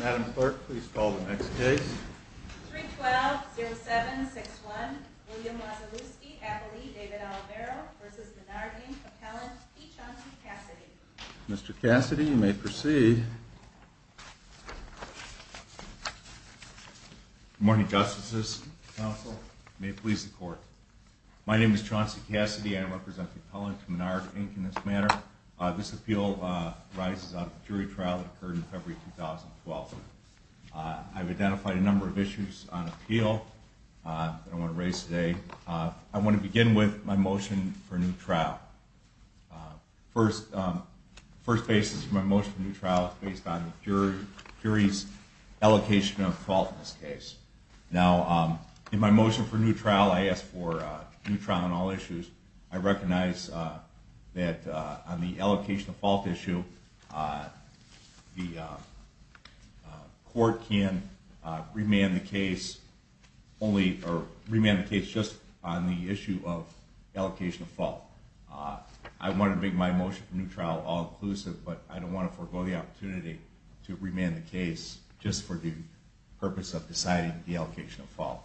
Madam Clerk, please call the next case. 312-0761 William Wilewski v. Menard, Inc. Mr. Cassidy, you may proceed. Good morning, Justices, Counsel. May it please the Court. My name is Chauncey Cassidy. I represent the appellant to Menard, Inc. in this matter. This appeal arises out of a jury trial that occurred in February 2012. I've identified a number of issues on appeal that I want to raise today. I want to begin with my motion for a new trial. The first basis for my motion for a new trial is based on the jury's allocation of fault in this case. In my motion for a new trial, I ask for a new trial on all issues. I recognize that on the allocation of fault issue, the Court can remand the case just on the issue of allocation of fault. I want to make my motion for a new trial all-inclusive, but I don't want to forego the opportunity to remand the case just for the purpose of deciding the allocation of fault.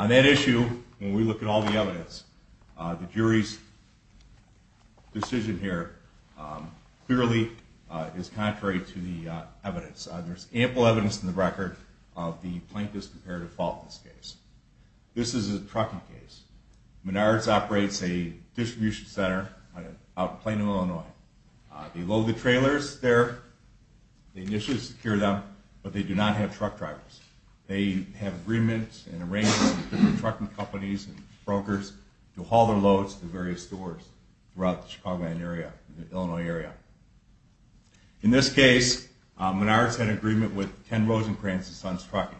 On that issue, when we look at all the evidence, the jury's decision here clearly is contrary to the evidence. There's ample evidence in the record of the plaintiff's comparative fault in this case. This is a trucking case. Menard's operates a distribution center out in Plano, Illinois. They load the trailers there. They initially secure them, but they do not have truck drivers. They have agreements and arrangements with trucking companies and brokers to haul their loads to various stores throughout the Chicago area and the Illinois area. In this case, Menard's had an agreement with Ken Rosencrantz and Sons Trucking.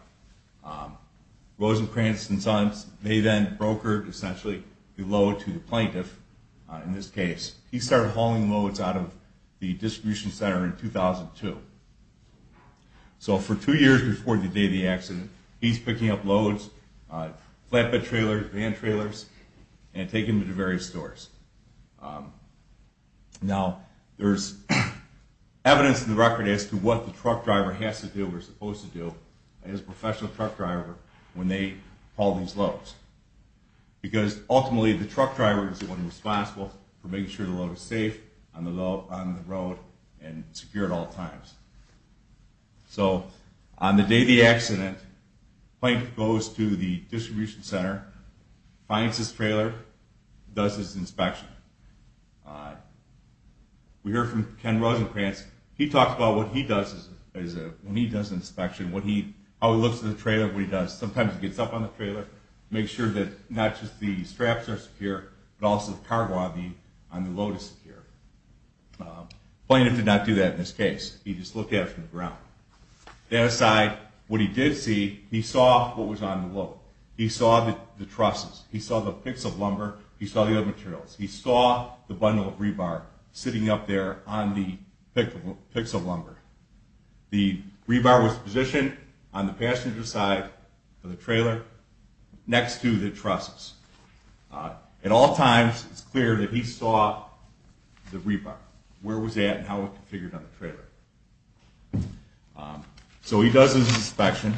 Rosencrantz and Sons, they then brokered, essentially, the load to the plaintiff in this case. He started hauling loads out of the distribution center in 2002. So for two years before the day of the accident, he's picking up loads, flatbed trailers, van trailers, and taking them to various stores. Now, there's evidence in the record as to what the truck driver has to do or is supposed to do as a professional truck driver when they haul these loads, because ultimately the truck driver is the one responsible for making sure the load is safe on the road and secure at all times. So on the day of the accident, Plank goes to the distribution center, finds his trailer, does his inspection. We heard from Ken Rosencrantz. He talks about what he does when he does an inspection, how he looks at the trailer, what he does. Sometimes he gets up on the trailer, makes sure that not just the straps are secure, but also the cargo on the load is secure. The plaintiff did not do that in this case. He just looked at it from the ground. That aside, what he did see, he saw what was on the load. He saw the trusses. He saw the picks of lumber. He saw the other materials. He saw the bundle of rebar sitting up there on the picks of lumber. The rebar was positioned on the passenger side of the trailer next to the trusses. At all times, it's clear that he saw the rebar, where it was at and how it was configured on the trailer. So he does his inspection,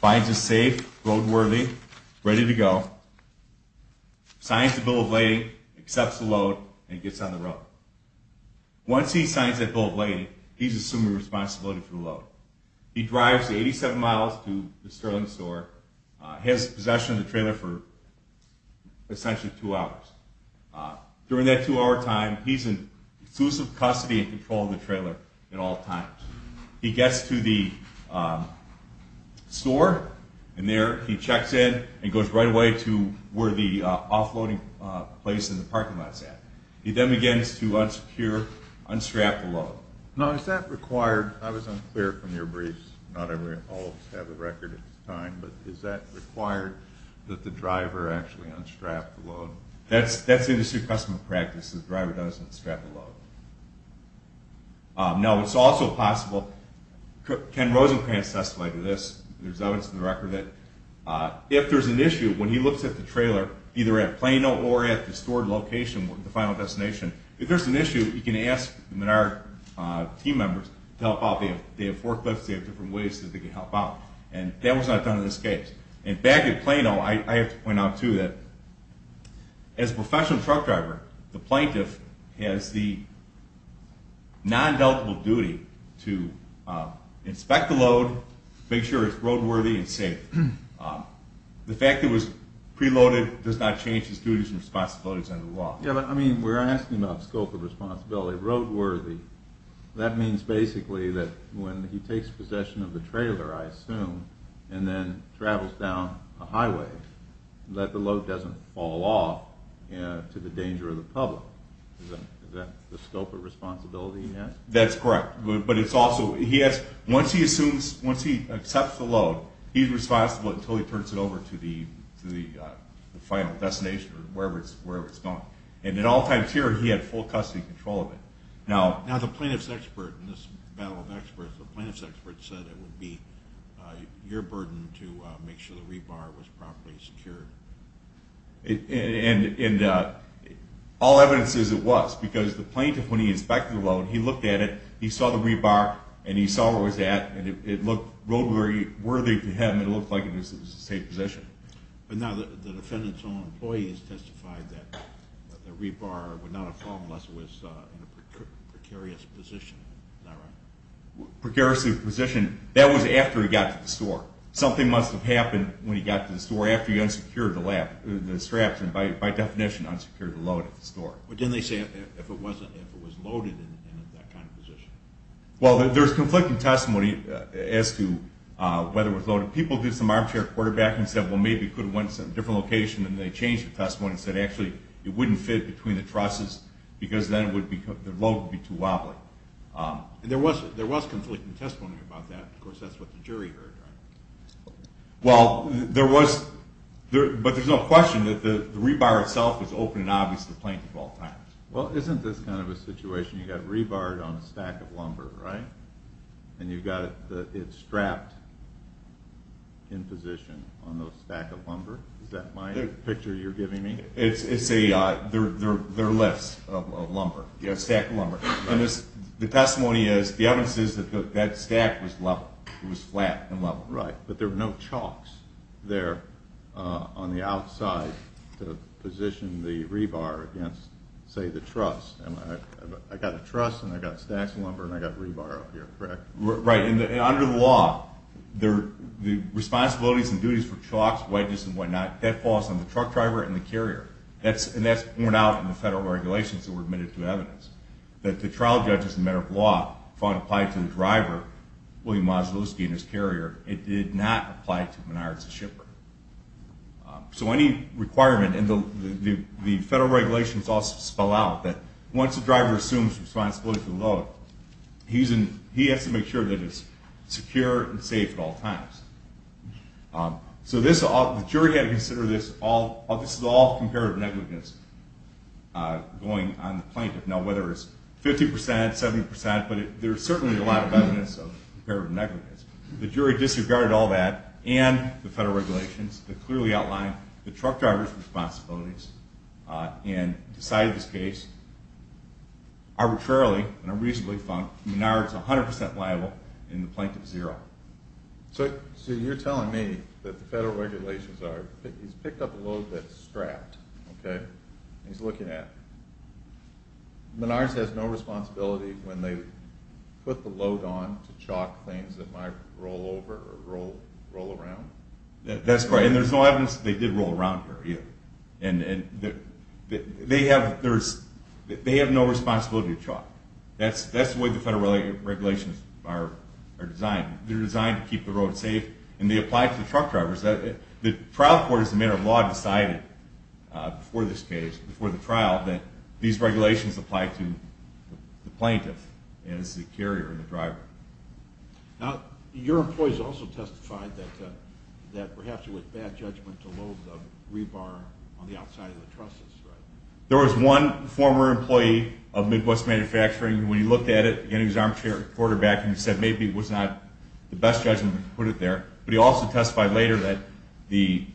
finds it safe, roadworthy, ready to go, signs the bill of lading, accepts the load, and gets on the road. Once he signs that bill of lading, he's assuming responsibility for the load. He drives 87 miles to the Sterling store, has possession of the trailer for essentially two hours. During that two-hour time, he's in exclusive custody and control of the trailer at all times. He gets to the store, and there he checks in, and goes right away to where the offloading place in the parking lot is at. He then begins to unsecure, unstrap the load. Now, is that required? I was unclear from your briefs. Not all of us have a record at this time, but is that required, that the driver actually unstrap the load? That's industry custom practice. The driver does unstrap the load. Now, it's also possible, Ken Rosenkrantz testified to this. There's evidence in the record that if there's an issue, when he looks at the trailer, either at Plano or at the stored location, the final destination, if there's an issue, he can ask the Menard team members to help out. They have forklifts, they have different ways that they can help out. And that was not done in this case. And back at Plano, I have to point out, too, that as a professional truck driver, the plaintiff has the non-deltable duty to inspect the load, make sure it's roadworthy and safe. The fact that it was preloaded does not change his duties and responsibilities under the law. Yeah, but I mean, we're asking about scope of responsibility. Roadworthy, that means basically that when he takes possession of the trailer, I assume, and then travels down a highway, that the load doesn't fall off to the danger of the public. Is that the scope of responsibility he has? That's correct. But it's also, he has, once he assumes, once he accepts the load, he's responsible until he turns it over to the final destination or wherever it's going. And at all times here, he had full custody control of it. Now, the plaintiff's expert in this battle of experts, the plaintiff's expert said it would be your burden to make sure the rebar was properly secured. And all evidence says it was, because the plaintiff, when he inspected the load, he looked at it, he saw the rebar, and he saw where it was at, and it looked roadworthy to him. It looked like it was in a safe position. But now the defendant's own employees testified that the rebar would not have fallen unless it was in a precarious position, is that right? Precarious position, that was after he got to the store. Something must have happened when he got to the store after he unsecured the straps, and by definition, unsecured the load at the store. But didn't they say if it was loaded and in that kind of position? Well, there's conflicting testimony as to whether it was loaded. People did some armchair quarterbacking and said, well, maybe it could have went to a different location, and they changed the testimony and said, actually, it wouldn't fit between the trusses because then the load would be too wobbly. There was conflicting testimony about that. Of course, that's what the jury heard, right? Well, there was, but there's no question that the rebar itself was open and obvious to plaintiff at all times. Well, isn't this kind of a situation? You've got rebar on a stack of lumber, right? And you've got it strapped in position on those stack of lumber? Is that my picture you're giving me? It's a, they're lifts of lumber, stack of lumber. And the testimony is, the evidence is that that stack was level. It was flat and level. Right, but there were no chalks there on the outside to position the rebar against, say, the truss. I got a truss, and I got stacks of lumber, and I got rebar up here, correct? Right, and under the law, the responsibilities and duties for chalks, wedges, and whatnot, that falls on the truck driver and the carrier. And that's worn out in the federal regulations that were admitted to evidence. That the trial judge, as a matter of law, if one applied to the driver, William Mazdalouski and his carrier, it did not apply to Menards, the shipper. So any requirement, and the federal regulations also spell out that once the driver assumes responsibility for the load, he has to make sure that it's secure and safe at all times. So this, the jury had to consider this, this is all comparative negligence going on the plaintiff. Now whether it's 50%, 70%, but there's certainly a lot of evidence of comparative negligence. The jury disregarded all that and the federal regulations that clearly outline the truck driver's responsibilities and decided this case arbitrarily and unreasonably, Menards 100% liable and the plaintiff 0. So you're telling me that the federal regulations are, he's picked up a load that's strapped, okay? He's looking at it. Menards has no responsibility when they put the load on to chalk things that might roll over or roll around? That's correct. And there's no evidence that they did roll around here either. And they have no responsibility to chalk. That's the way the federal regulations are designed. They're designed to keep the road safe and they apply to the truck drivers. The trial court as a matter of law decided before this case, before the trial, that these regulations apply to the plaintiff as the carrier and the driver. Now your employees also testified that perhaps it was bad judgment to load the rebar on the outside of the trusses, right? There was one former employee of Midwest Manufacturing. When he looked at it, again, he was an armchair quarterback, and he said maybe it was not the best judgment to put it there. But he also testified later that he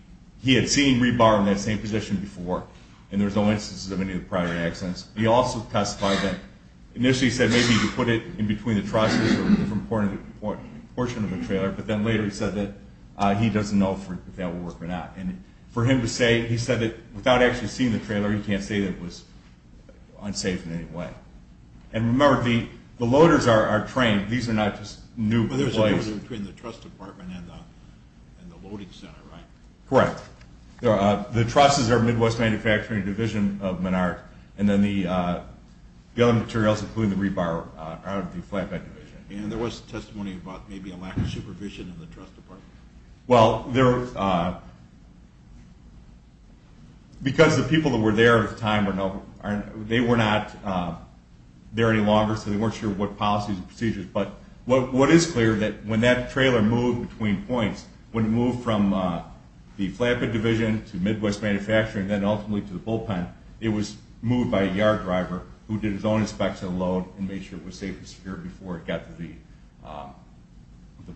had seen rebar in that same position before, and there's no instances of any of the prior accidents. He also testified that initially he said maybe he could put it in between the trusses or a different portion of the trailer, but then later he said that he doesn't know if that would work or not. And for him to say, he said that without actually seeing the trailer, he can't say that it was unsafe in any way. And remember, the loaders are trained. These are not just new employees. But there's a difference between the truss department and the loading center, right? Correct. The trusses are Midwest Manufacturing, a division of Menard, and then the other materials, including the rebar, are out of the flatbed division. And there was testimony about maybe a lack of supervision in the truss department? Well, because the people that were there at the time, they were not there any longer, so they weren't sure what policies and procedures, but what is clear is that when that trailer moved between points, when it moved from the flatbed division to Midwest Manufacturing and then ultimately to the bullpen, it was moved by a yard driver who did his own inspection of the load and made sure it was safe and secure before it got to the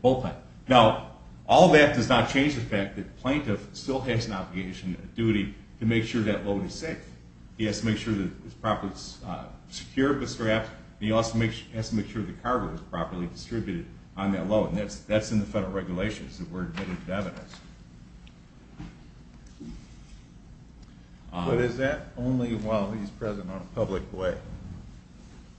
bullpen. Now, all that does not change the fact that the plaintiff still has an obligation, a duty, to make sure that load is safe. He has to make sure that it's properly secured, but he also has to make sure the cargo is properly distributed on that load, and that's in the federal regulations that we're admitted to evidence. But is that only while he's present on a public way?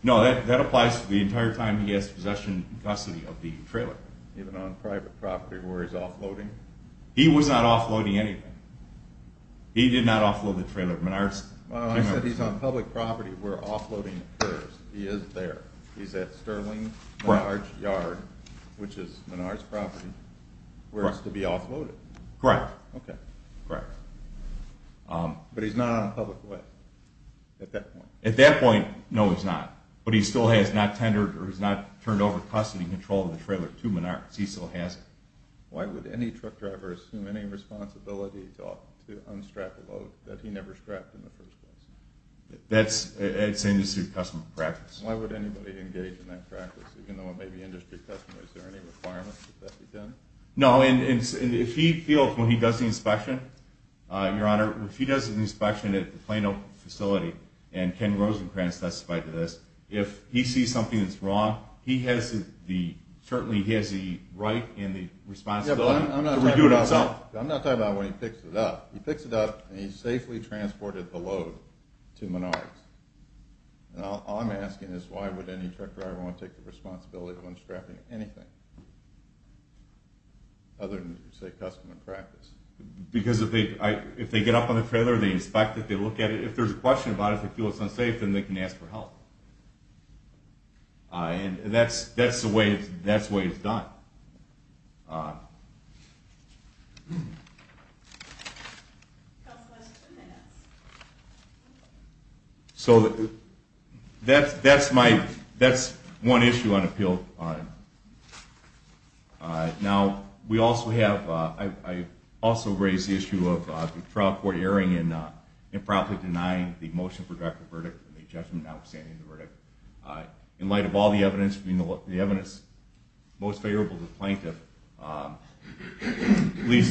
No, that applies the entire time he has possession and custody of the trailer. Even on private property where he's offloading? He was not offloading anything. He did not offload the trailer. Well, I said he's on public property where offloading occurs. He is there. He's at Sterling Menards Yard, which is Menards' property, where it's to be offloaded. Correct. Okay. Correct. But he's not on public way at that point? At that point, no, he's not, but he still has not turned over custody control of the trailer to Menards. He still has it. Why would any truck driver assume any responsibility to unstrap a load that he never strapped in the first place? That's industry custom practice. Why would anybody engage in that practice, even though it may be industry custom? Is there any requirement that that be done? No, and if he feels when he does the inspection, Your Honor, if he does an inspection at the Plano facility, and Ken Rosenkranz testified to this, if he sees something that's wrong, he certainly has the right and the responsibility to redo it himself. I'm not talking about when he picks it up. He picks it up and he safely transported the load to Menards. All I'm asking is why would any truck driver want to take the responsibility of unstrapping anything other than, say, customer practice? Because if they get up on the trailer and they inspect it, they look at it, if there's a question about it, if they feel it's unsafe, then they can ask for help. And that's the way it's done. So that's one issue on appeal. Now, we also have, I also raised the issue of the trial court erring in improperly denying the motion for directed verdict and the judgment notwithstanding the verdict. In light of all the evidence, the evidence most favorable to the plaintiff leads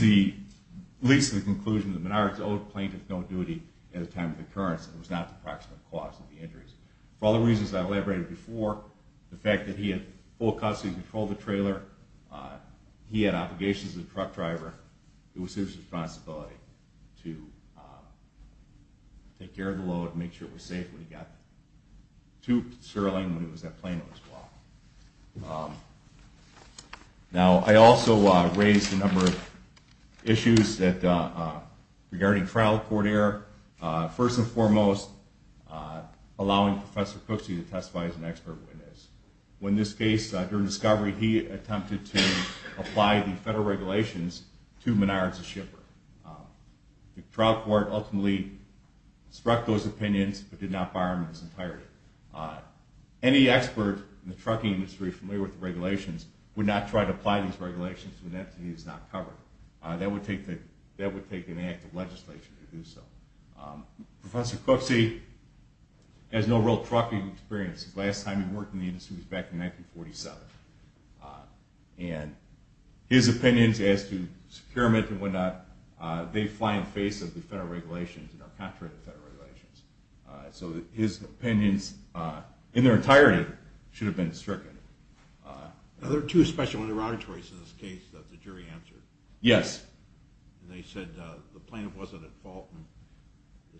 to the conclusion that Menards owed plaintiff no duty at the time of the occurrence. It was not the proximate cause of the injuries. For all the reasons I elaborated before, the fact that he had full custody of the trailer, he had obligations as a truck driver, it was his responsibility to take care of the load and make sure it was safe when he got to Sterling when he was at Plano as well. Now, I also raised a number of issues regarding trial court error. First and foremost, allowing Professor Cooksey to testify as an expert witness. In this case, during discovery, he attempted to apply the federal regulations to Menards, the shipper. The trial court ultimately struck those opinions but did not fire him in his entirety. Any expert in the trucking industry familiar with the regulations would not try to apply these regulations when the entity is not covered. That would take an active legislature to do so. Professor Cooksey has no real trucking experience. The last time he worked in the industry was back in 1947. And his opinions as to securement and whatnot, they fly in the face of the federal regulations and are contrary to federal regulations. So his opinions in their entirety should have been stricken. Are there two special interrogatories in this case that the jury answered? Yes. They said the plaintiff wasn't at fault and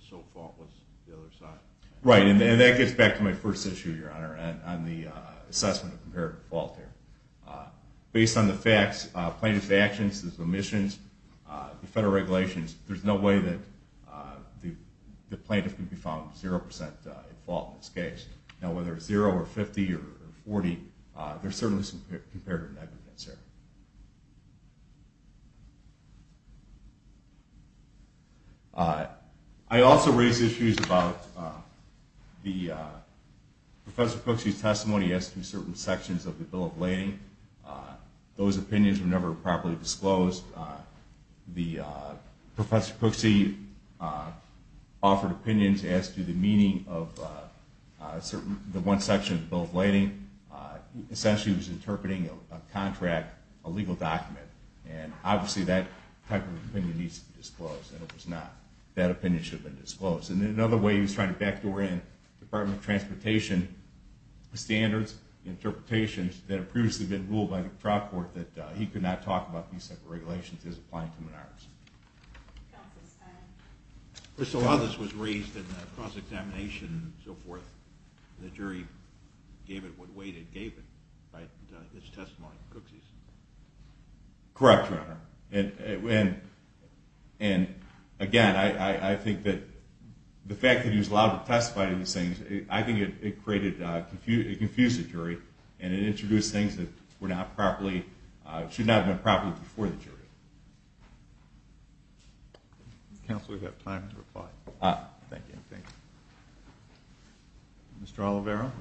so faultless the other side. Right, and that gets back to my first issue, Your Honor, on the assessment of comparative fault there. Based on the facts, plaintiff's actions, his omissions, the federal regulations, there's no way that the plaintiff can be found 0% at fault in this case. Now whether it's 0 or 50 or 40, there's certainly some comparative negligence there. I also raised issues about Professor Cooksey's testimony as to certain sections of the Bill of Lading. Those opinions were never properly disclosed. Professor Cooksey offered opinions as to the meaning of the one section of the Bill of Lading. Essentially he was interpreting a contract, a legal document. And obviously that type of opinion needs to be disclosed, and it was not. That opinion should have been disclosed. And another way he was trying to backdoor in Department of Transportation standards, interpretations that had previously been ruled by the trial court that he could not talk about these type of regulations is applying to Menard's. Counsel's time. So a lot of this was raised in the cross-examination and so forth. The jury gave it what weight it gave it, right, this testimony from Cooksey's. Correct, Your Honor. And again, I think that the fact that he was allowed to testify to these things, I think it confused the jury and it introduced things that were not properly, should not have been properly before the jury. Counsel, we've got time to reply. Thank you. Thank you. Mr. Oliveiro.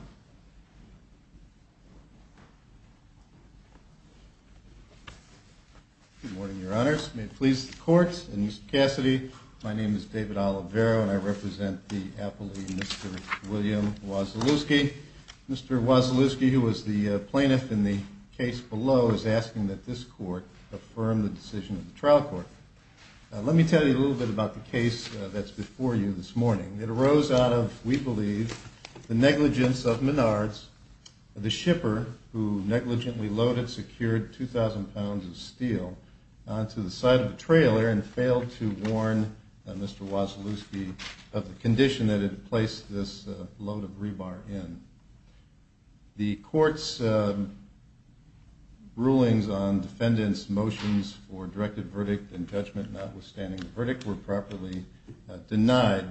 Good morning, Your Honors. May it please the Court. My name is David Oliveiro, and I represent the appellee, Mr. William Wasilewski. Mr. Wasilewski, who was the plaintiff in the case below, is asking that this court affirm the decision of the trial court. Let me tell you a little bit about the case that's before you this morning. It arose out of, we believe, the negligence of Menard's, the shipper who negligently loaded, secured 2,000 pounds of steel onto the side of the trailer and failed to warn Mr. Wasilewski of the condition that it had placed this load of rebar in. The court's rulings on defendants' motions for directed verdict and judgment notwithstanding the verdict were properly denied.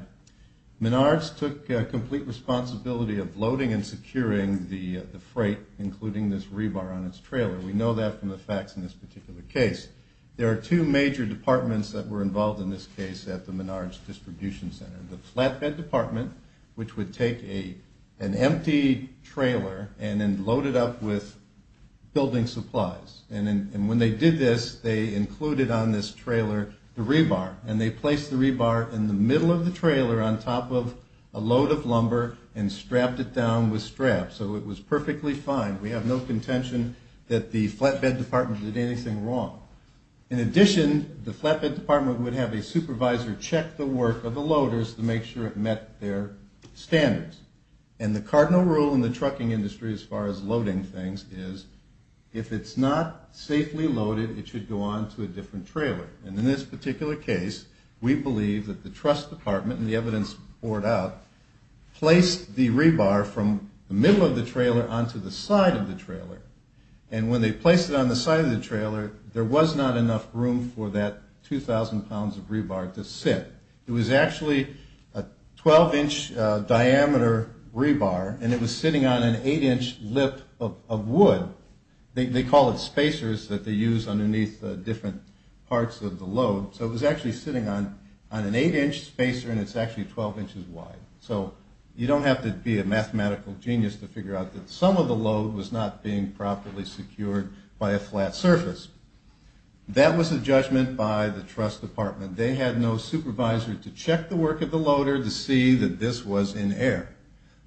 Menard's took complete responsibility of loading and securing the freight, including this rebar on its trailer. We know that from the facts in this particular case. There are two major departments that were involved in this case at the Menard's distribution center. The flatbed department, which would take an empty trailer and then load it up with building supplies. And when they did this, they included on this trailer the rebar. And they placed the rebar in the middle of the trailer on top of a load of lumber and strapped it down with straps. So it was perfectly fine. We have no contention that the flatbed department did anything wrong. In addition, the flatbed department would have a supervisor check the work of the loaders to make sure it met their standards. And the cardinal rule in the trucking industry as far as loading things is, if it's not safely loaded, it should go on to a different trailer. And in this particular case, we believe that the trust department, and the evidence poured out, placed the rebar from the middle of the trailer onto the side of the trailer. And when they placed it on the side of the trailer, there was not enough room for that 2,000 pounds of rebar to sit. It was actually a 12-inch diameter rebar, and it was sitting on an 8-inch lip of wood. They call it spacers that they use underneath different parts of the load. So it was actually sitting on an 8-inch spacer, and it's actually 12 inches wide. So you don't have to be a mathematical genius to figure out that some of the load was not being properly secured by a flat surface. That was a judgment by the trust department. They had no supervisor to check the work of the loader to see that this was in error.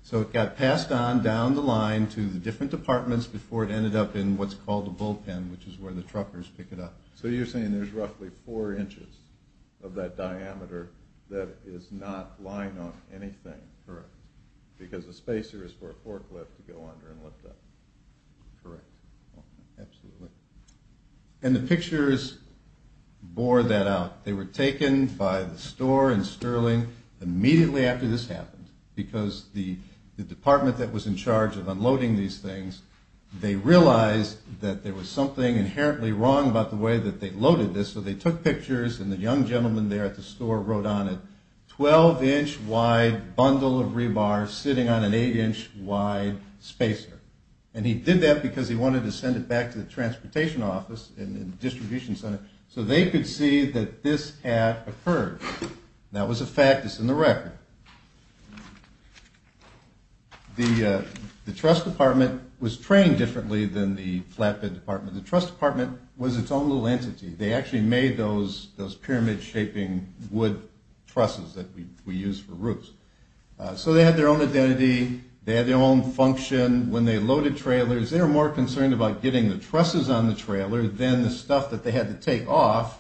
So it got passed on down the line to the different departments before it ended up in what's called the bullpen, which is where the truckers pick it up. So you're saying there's roughly 4 inches of that diameter that is not lying on anything. Correct. Because the spacer is for a forklift to go under and lift up. Correct. Absolutely. And the pictures bore that out. They were taken by the store in Sterling immediately after this happened, because the department that was in charge of unloading these things, they realized that there was something inherently wrong about the way that they loaded this. So they took pictures, and the young gentleman there at the store wrote on it, 12-inch wide bundle of rebar sitting on an 8-inch wide spacer. And he did that because he wanted to send it back to the transportation office and distribution center so they could see that this had occurred. That was a fact that's in the record. The truss department was trained differently than the flatbed department. The truss department was its own little entity. They actually made those pyramid-shaping wood trusses that we use for roofs. So they had their own identity. They had their own function. When they loaded trailers, they were more concerned about getting the trusses on the trailer than the stuff that they had to take off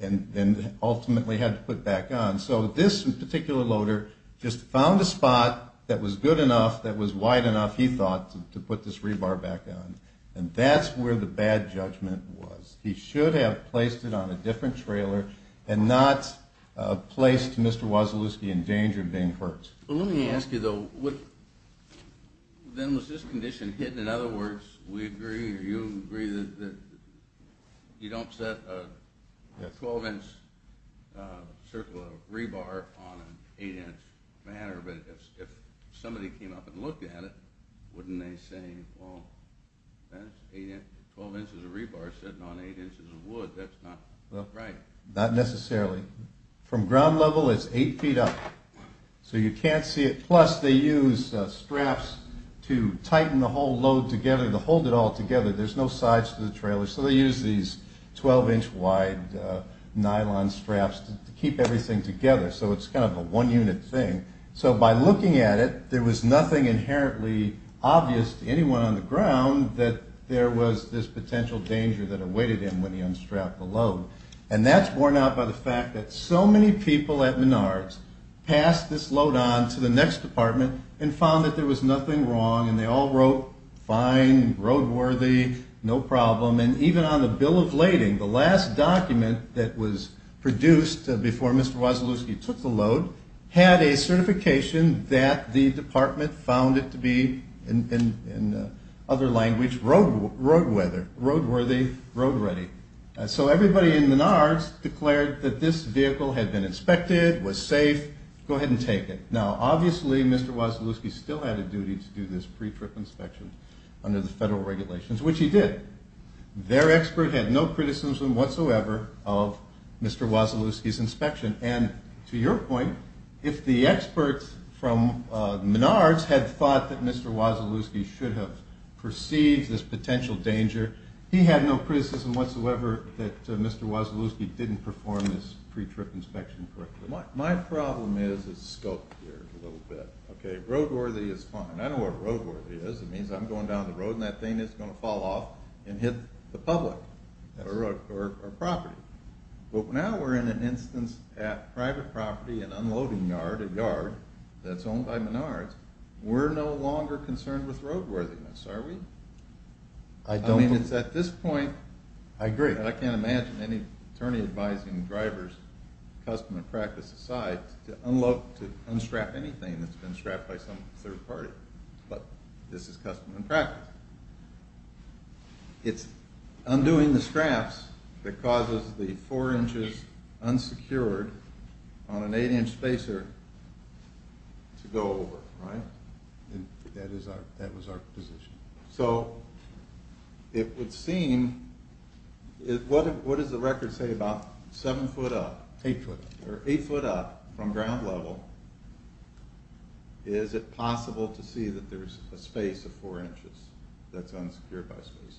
and ultimately had to put back on. So this particular loader just found a spot that was good enough, that was wide enough, he thought, to put this rebar back on. And that's where the bad judgment was. He should have placed it on a different trailer and not placed Mr. Wasilewski in danger of being hurt. Let me ask you, though, then was this condition hidden? In other words, we agree or you agree that you don't set a 12-inch circle of rebar on an 8-inch banner, but if somebody came up and looked at it, wouldn't they say, well, that's 12 inches of rebar sitting on 8 inches of wood. That's not right. Not necessarily. From ground level, it's 8 feet up. So you can't see it. Plus, they use straps to tighten the whole load together, to hold it all together. There's no sides to the trailer, so they use these 12-inch wide nylon straps to keep everything together. So it's kind of a one-unit thing. So by looking at it, there was nothing inherently obvious to anyone on the ground that there was this potential danger that awaited him when he unstrapped the load. And that's borne out by the fact that so many people at Menards passed this load on to the next department and found that there was nothing wrong, and they all wrote fine, roadworthy, no problem. And even on the bill of lading, the last document that was produced before Mr. Wasilewski took the load had a certification that the department found it to be, in other language, roadworthy, road ready. So everybody in Menards declared that this vehicle had been inspected, was safe, go ahead and take it. Now, obviously, Mr. Wasilewski still had a duty to do this pre-trip inspection under the federal regulations, which he did. Their expert had no criticism whatsoever of Mr. Wasilewski's inspection. And to your point, if the experts from Menards had thought that Mr. Wasilewski should have perceived this potential danger, he had no criticism whatsoever that Mr. Wasilewski didn't perform this pre-trip inspection correctly. My problem is the scope here a little bit. Okay, roadworthy is fine. I know what roadworthy is. It means I'm going down the road and that thing is going to fall off and hit the public or property. But now we're in an instance at private property, an unloading yard, a yard that's owned by Menards. We're no longer concerned with roadworthiness, are we? I mean, it's at this point that I can't imagine any attorney advising drivers, custom and practice aside, to unload, to unstrap anything that's been strapped by some third party. But this is custom and practice. It's undoing the straps that causes the four inches unsecured on an eight-inch spacer to go over, right? That was our position. So it would seem, what does the record say about seven foot up, eight foot up from ground level, is it possible to see that there's a space of four inches that's unsecured by spacers?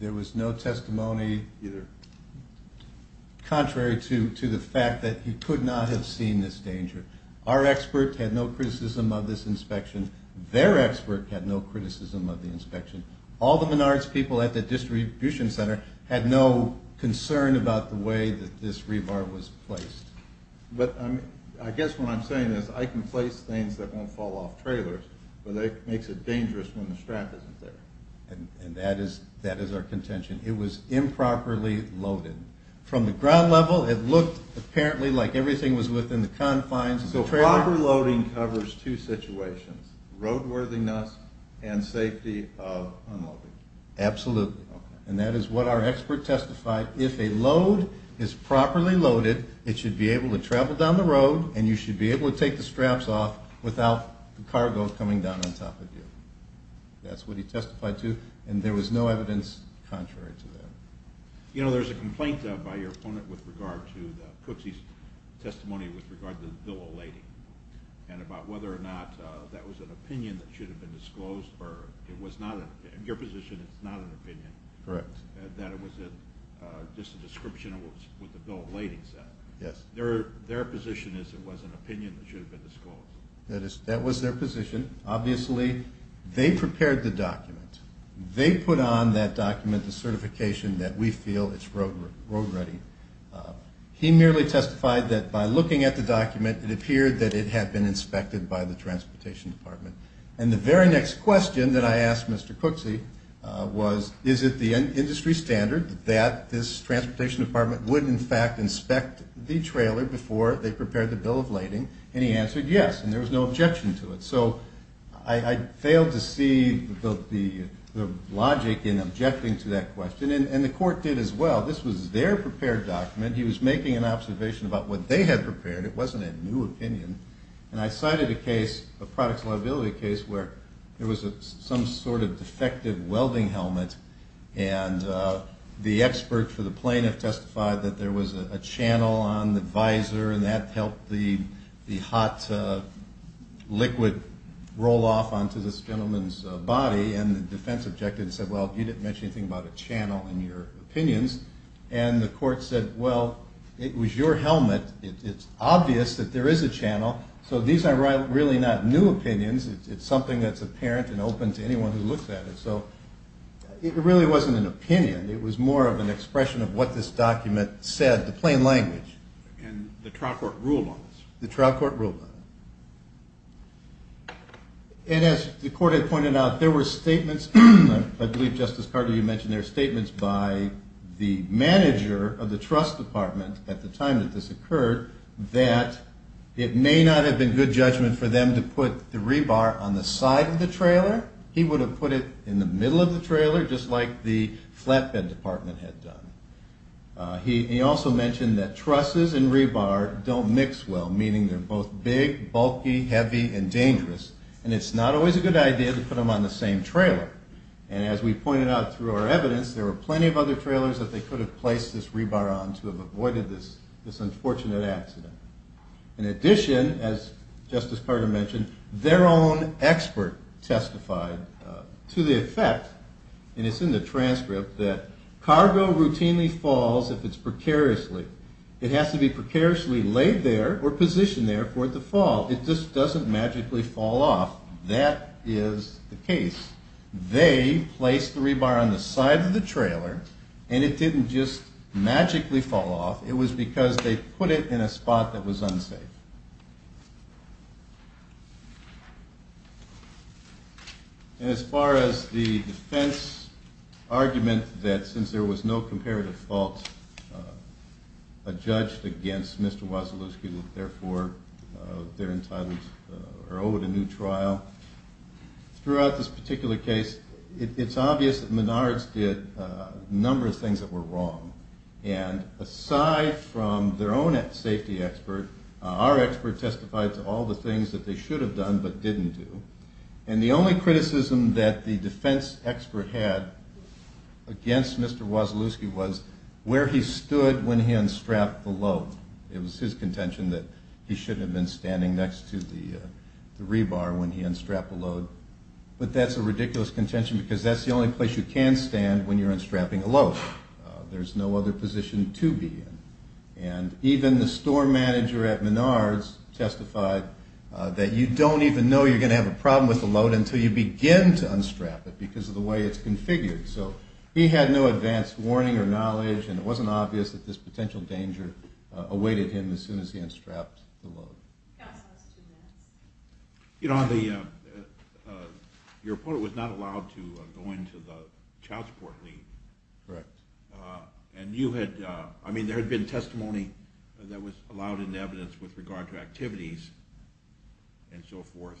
There was no testimony. Either. Contrary to the fact that he could not have seen this danger. Our expert had no criticism of this inspection. Their expert had no criticism of the inspection. All the Menards people at the distribution center had no concern about the way that this rebar was placed. But I guess what I'm saying is I can place things that won't fall off trailers, but that makes it dangerous when the strap isn't there. It was improperly loaded. From the ground level, it looked apparently like everything was within the confines of the trailer. So improper loading covers two situations, roadworthiness and safety of unloading. Absolutely. And that is what our expert testified. If a load is properly loaded, it should be able to travel down the road, and you should be able to take the straps off without the cargo coming down on top of you. That's what he testified to, and there was no evidence contrary to that. You know, there's a complaint by your opponent with regard to Cooksey's testimony with regard to the bill of lading and about whether or not that was an opinion that should have been disclosed, or it was not an opinion. In your position, it's not an opinion. Correct. That it was just a description of what the bill of lading said. Yes. Their position is it was an opinion that should have been disclosed. That was their position. Obviously, they prepared the document. They put on that document the certification that we feel is road-ready. He merely testified that by looking at the document, it appeared that it had been inspected by the transportation department. And the very next question that I asked Mr. Cooksey was, is it the industry standard that this transportation department would, in fact, inspect the trailer before they prepared the bill of lading? And he answered yes, and there was no objection to it. So I failed to see the logic in objecting to that question, and the court did as well. This was their prepared document. He was making an observation about what they had prepared. It wasn't a new opinion. And I cited a case, a products liability case, where there was some sort of defective welding helmet, and the expert for the plaintiff testified that there was a channel on the visor, and that helped the hot liquid roll off onto this gentleman's body. And the defense objected and said, well, you didn't mention anything about a channel in your opinions. And the court said, well, it was your helmet. It's obvious that there is a channel, so these are really not new opinions. It's something that's apparent and open to anyone who looks at it. So it really wasn't an opinion. It was more of an expression of what this document said, the plain language. And the trial court ruled on this? The trial court ruled on it. And as the court had pointed out, there were statements. I believe, Justice Carter, you mentioned there were statements by the manager of the trust department at the time that this occurred that it may not have been good judgment for them to put the rebar on the side of the trailer. He would have put it in the middle of the trailer, just like the flatbed department had done. He also mentioned that trusses and rebar don't mix well, meaning they're both big, bulky, heavy, and dangerous. And it's not always a good idea to put them on the same trailer. And as we pointed out through our evidence, there were plenty of other trailers that they could have placed this rebar on to have avoided this unfortunate accident. In addition, as Justice Carter mentioned, their own expert testified to the effect, and it's in the transcript, that cargo routinely falls if it's precariously. It has to be precariously laid there or positioned there for it to fall. It just doesn't magically fall off. That is the case. They placed the rebar on the side of the trailer, and it didn't just magically fall off. It was because they put it in a spot that was unsafe. And as far as the defense argument that since there was no comparative fault, a judge against Mr. Wasilewski would therefore be entitled or owed a new trial, throughout this particular case, it's obvious that Menards did a number of things that were wrong. And aside from their own safety expert, our expert testified to all the things that they should have done but didn't do. And the only criticism that the defense expert had against Mr. Wasilewski was where he stood when he unstrapped the load. It was his contention that he shouldn't have been standing next to the rebar when he unstrapped the load. But that's a ridiculous contention because that's the only place you can stand when you're unstrapping a load. There's no other position to be in. And even the store manager at Menards testified that you don't even know you're going to have a problem with the load until you begin to unstrap it because of the way it's configured. So he had no advanced warning or knowledge, and it wasn't obvious that this potential danger awaited him as soon as he unstrapped the load. Your opponent was not allowed to go into the child support league. Correct. And there had been testimony that was allowed in evidence with regard to activities and so forth.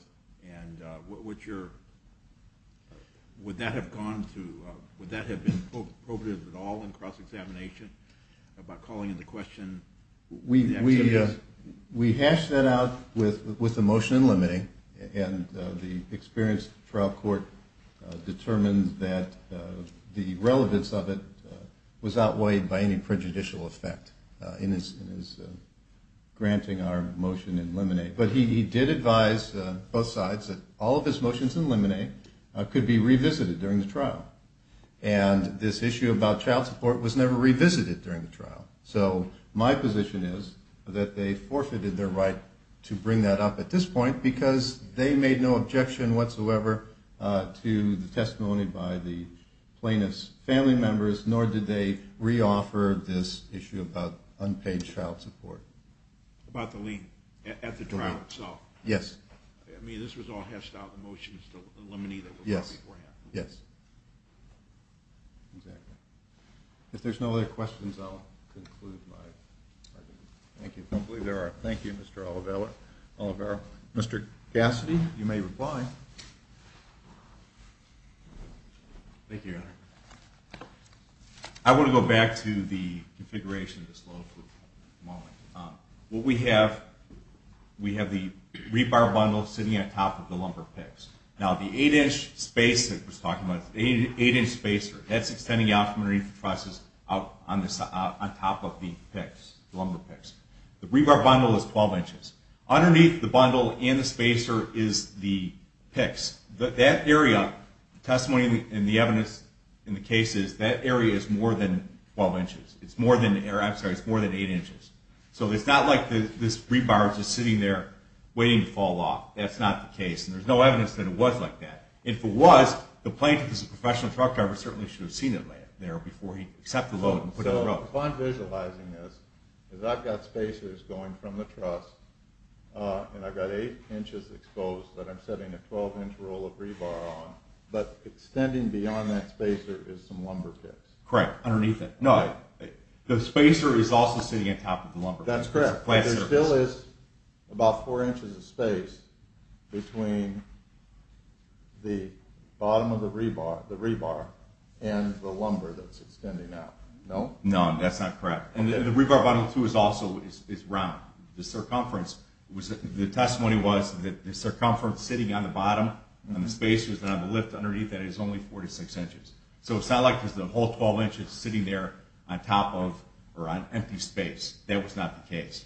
Would that have been appropriate at all in cross-examination about calling into question the activities? We hashed that out with the motion in limine, and the experienced trial court determined that the relevance of it was outweighed by any prejudicial effect in his granting our motion in limine. But he did advise both sides that all of his motions in limine could be revisited during the trial. And this issue about child support was never revisited during the trial. So my position is that they forfeited their right to bring that up at this point because they made no objection whatsoever to the testimony by the plaintiff's family members, nor did they re-offer this issue about unpaid child support. About the lien at the trial itself. Yes. I mean, this was all hashed out in the motions in limine that were brought beforehand. Yes, yes. Exactly. If there's no other questions, I'll conclude my argument. Thank you. I don't believe there are. Thank you, Mr. Oliveira. Mr. Cassidy, you may reply. Thank you, Your Honor. I want to go back to the configuration of this law for a moment. What we have, we have the rebar bundle sitting on top of the lumber picks. Now, the 8-inch spacer, that's extending out from underneath the trusses on top of the lumber picks. The rebar bundle is 12 inches. Underneath the bundle and the spacer is the picks. That area, the testimony and the evidence in the case is that area is more than 8 inches. So it's not like this rebar is just sitting there waiting to fall off. That's not the case. There's no evidence that it was like that. If it was, the plaintiff as a professional truck driver certainly should have seen it there before he set the load and put it on the road. So if I'm visualizing this, I've got spacers going from the truss, and I've got 8 inches exposed that I'm setting a 12-inch roll of rebar on. But extending beyond that spacer is some lumber picks. Correct. Underneath it. No, the spacer is also sitting on top of the lumber picks. That's correct. There still is about 4 inches of space between the bottom of the rebar and the lumber that's extending out. No? No, that's not correct. And the rebar bundle, too, is round. The circumference, the testimony was that the circumference sitting on the bottom and the spacer on the lift underneath that is only 4 to 6 inches. So it's not like there's a whole 12 inches sitting there on top of or on empty space. That was not the case.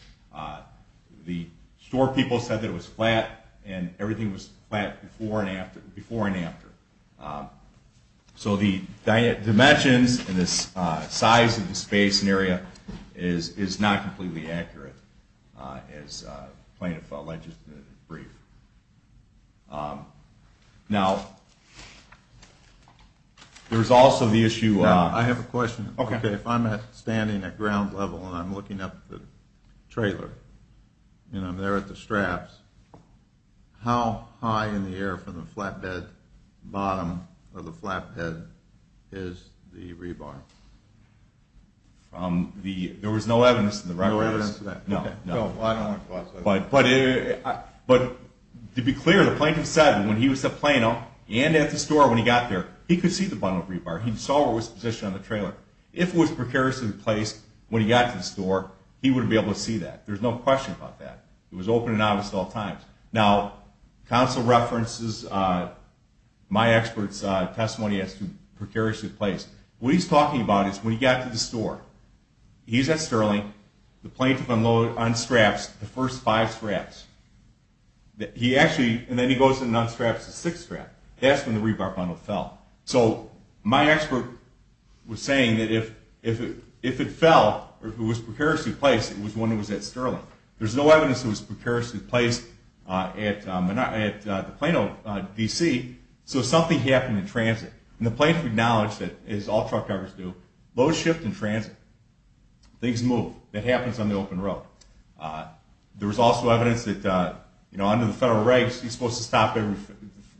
The store people said that it was flat, and everything was flat before and after. So the dimensions and the size of the space and area is not completely accurate, as the plaintiff alleged in the brief. Now, there's also the issue of... I have a question. Okay. If I'm standing at ground level and I'm looking up at the trailer and I'm there at the straps, how high in the air from the flatbed bottom of the flatbed is the rebar? There was no evidence in the record. No evidence of that. No. No. But to be clear, the plaintiff said when he was at Plano and at the store when he got there, he could see the bundle of rebar. He saw where it was positioned on the trailer. If it was precariously placed when he got to the store, he would be able to see that. There's no question about that. It was open and obvious at all times. Now, counsel references my expert's testimony as to precariously placed. What he's talking about is when he got to the store, he's at Sterling. The plaintiff unloaded on straps the first five straps. He actually... And then he goes and unstraps the sixth strap. That's when the rebar bundle fell. So my expert was saying that if it fell or if it was precariously placed, it was when it was at Sterling. There's no evidence it was precariously placed at the Plano DC. So something happened in transit. And the plaintiff acknowledged that, as all truck drivers do, loads shift in transit. Things move. That happens on the open road. There was also evidence that, you know, under the federal regs, he's supposed to stop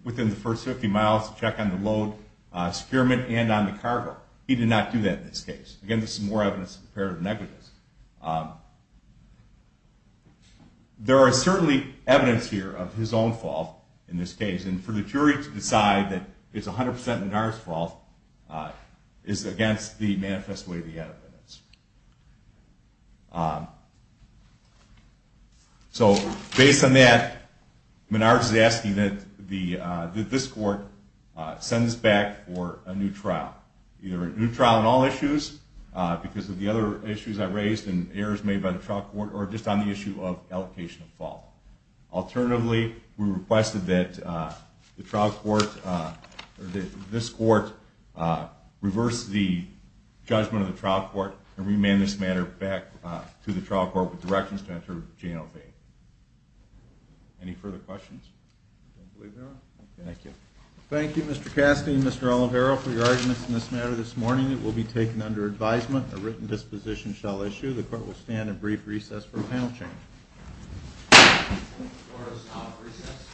within the first 50 miles to check on the load, securement, and on the cargo. He did not do that in this case. Again, this is more evidence of comparative negatives. There is certainly evidence here of his own fault in this case. And for the jury to decide that it's 100% Menard's fault is against the manifest way of the evidence. So based on that, Menard is asking that this court send us back for a new trial, either a new trial on all issues because of the other issues I raised and errors made by the trial court, or just on the issue of allocation of fault. Alternatively, we requested that this court reverse the judgment of the trial court and remand this matter back to the trial court with directions to enter JLV. Any further questions? I don't believe there are. Thank you. Thank you, Mr. Cassidy and Mr. Oliveiro, for your arguments in this matter this morning. It will be taken under advisement. A written disposition shall issue. The court will stand at brief recess for panel change. The court is now at recess.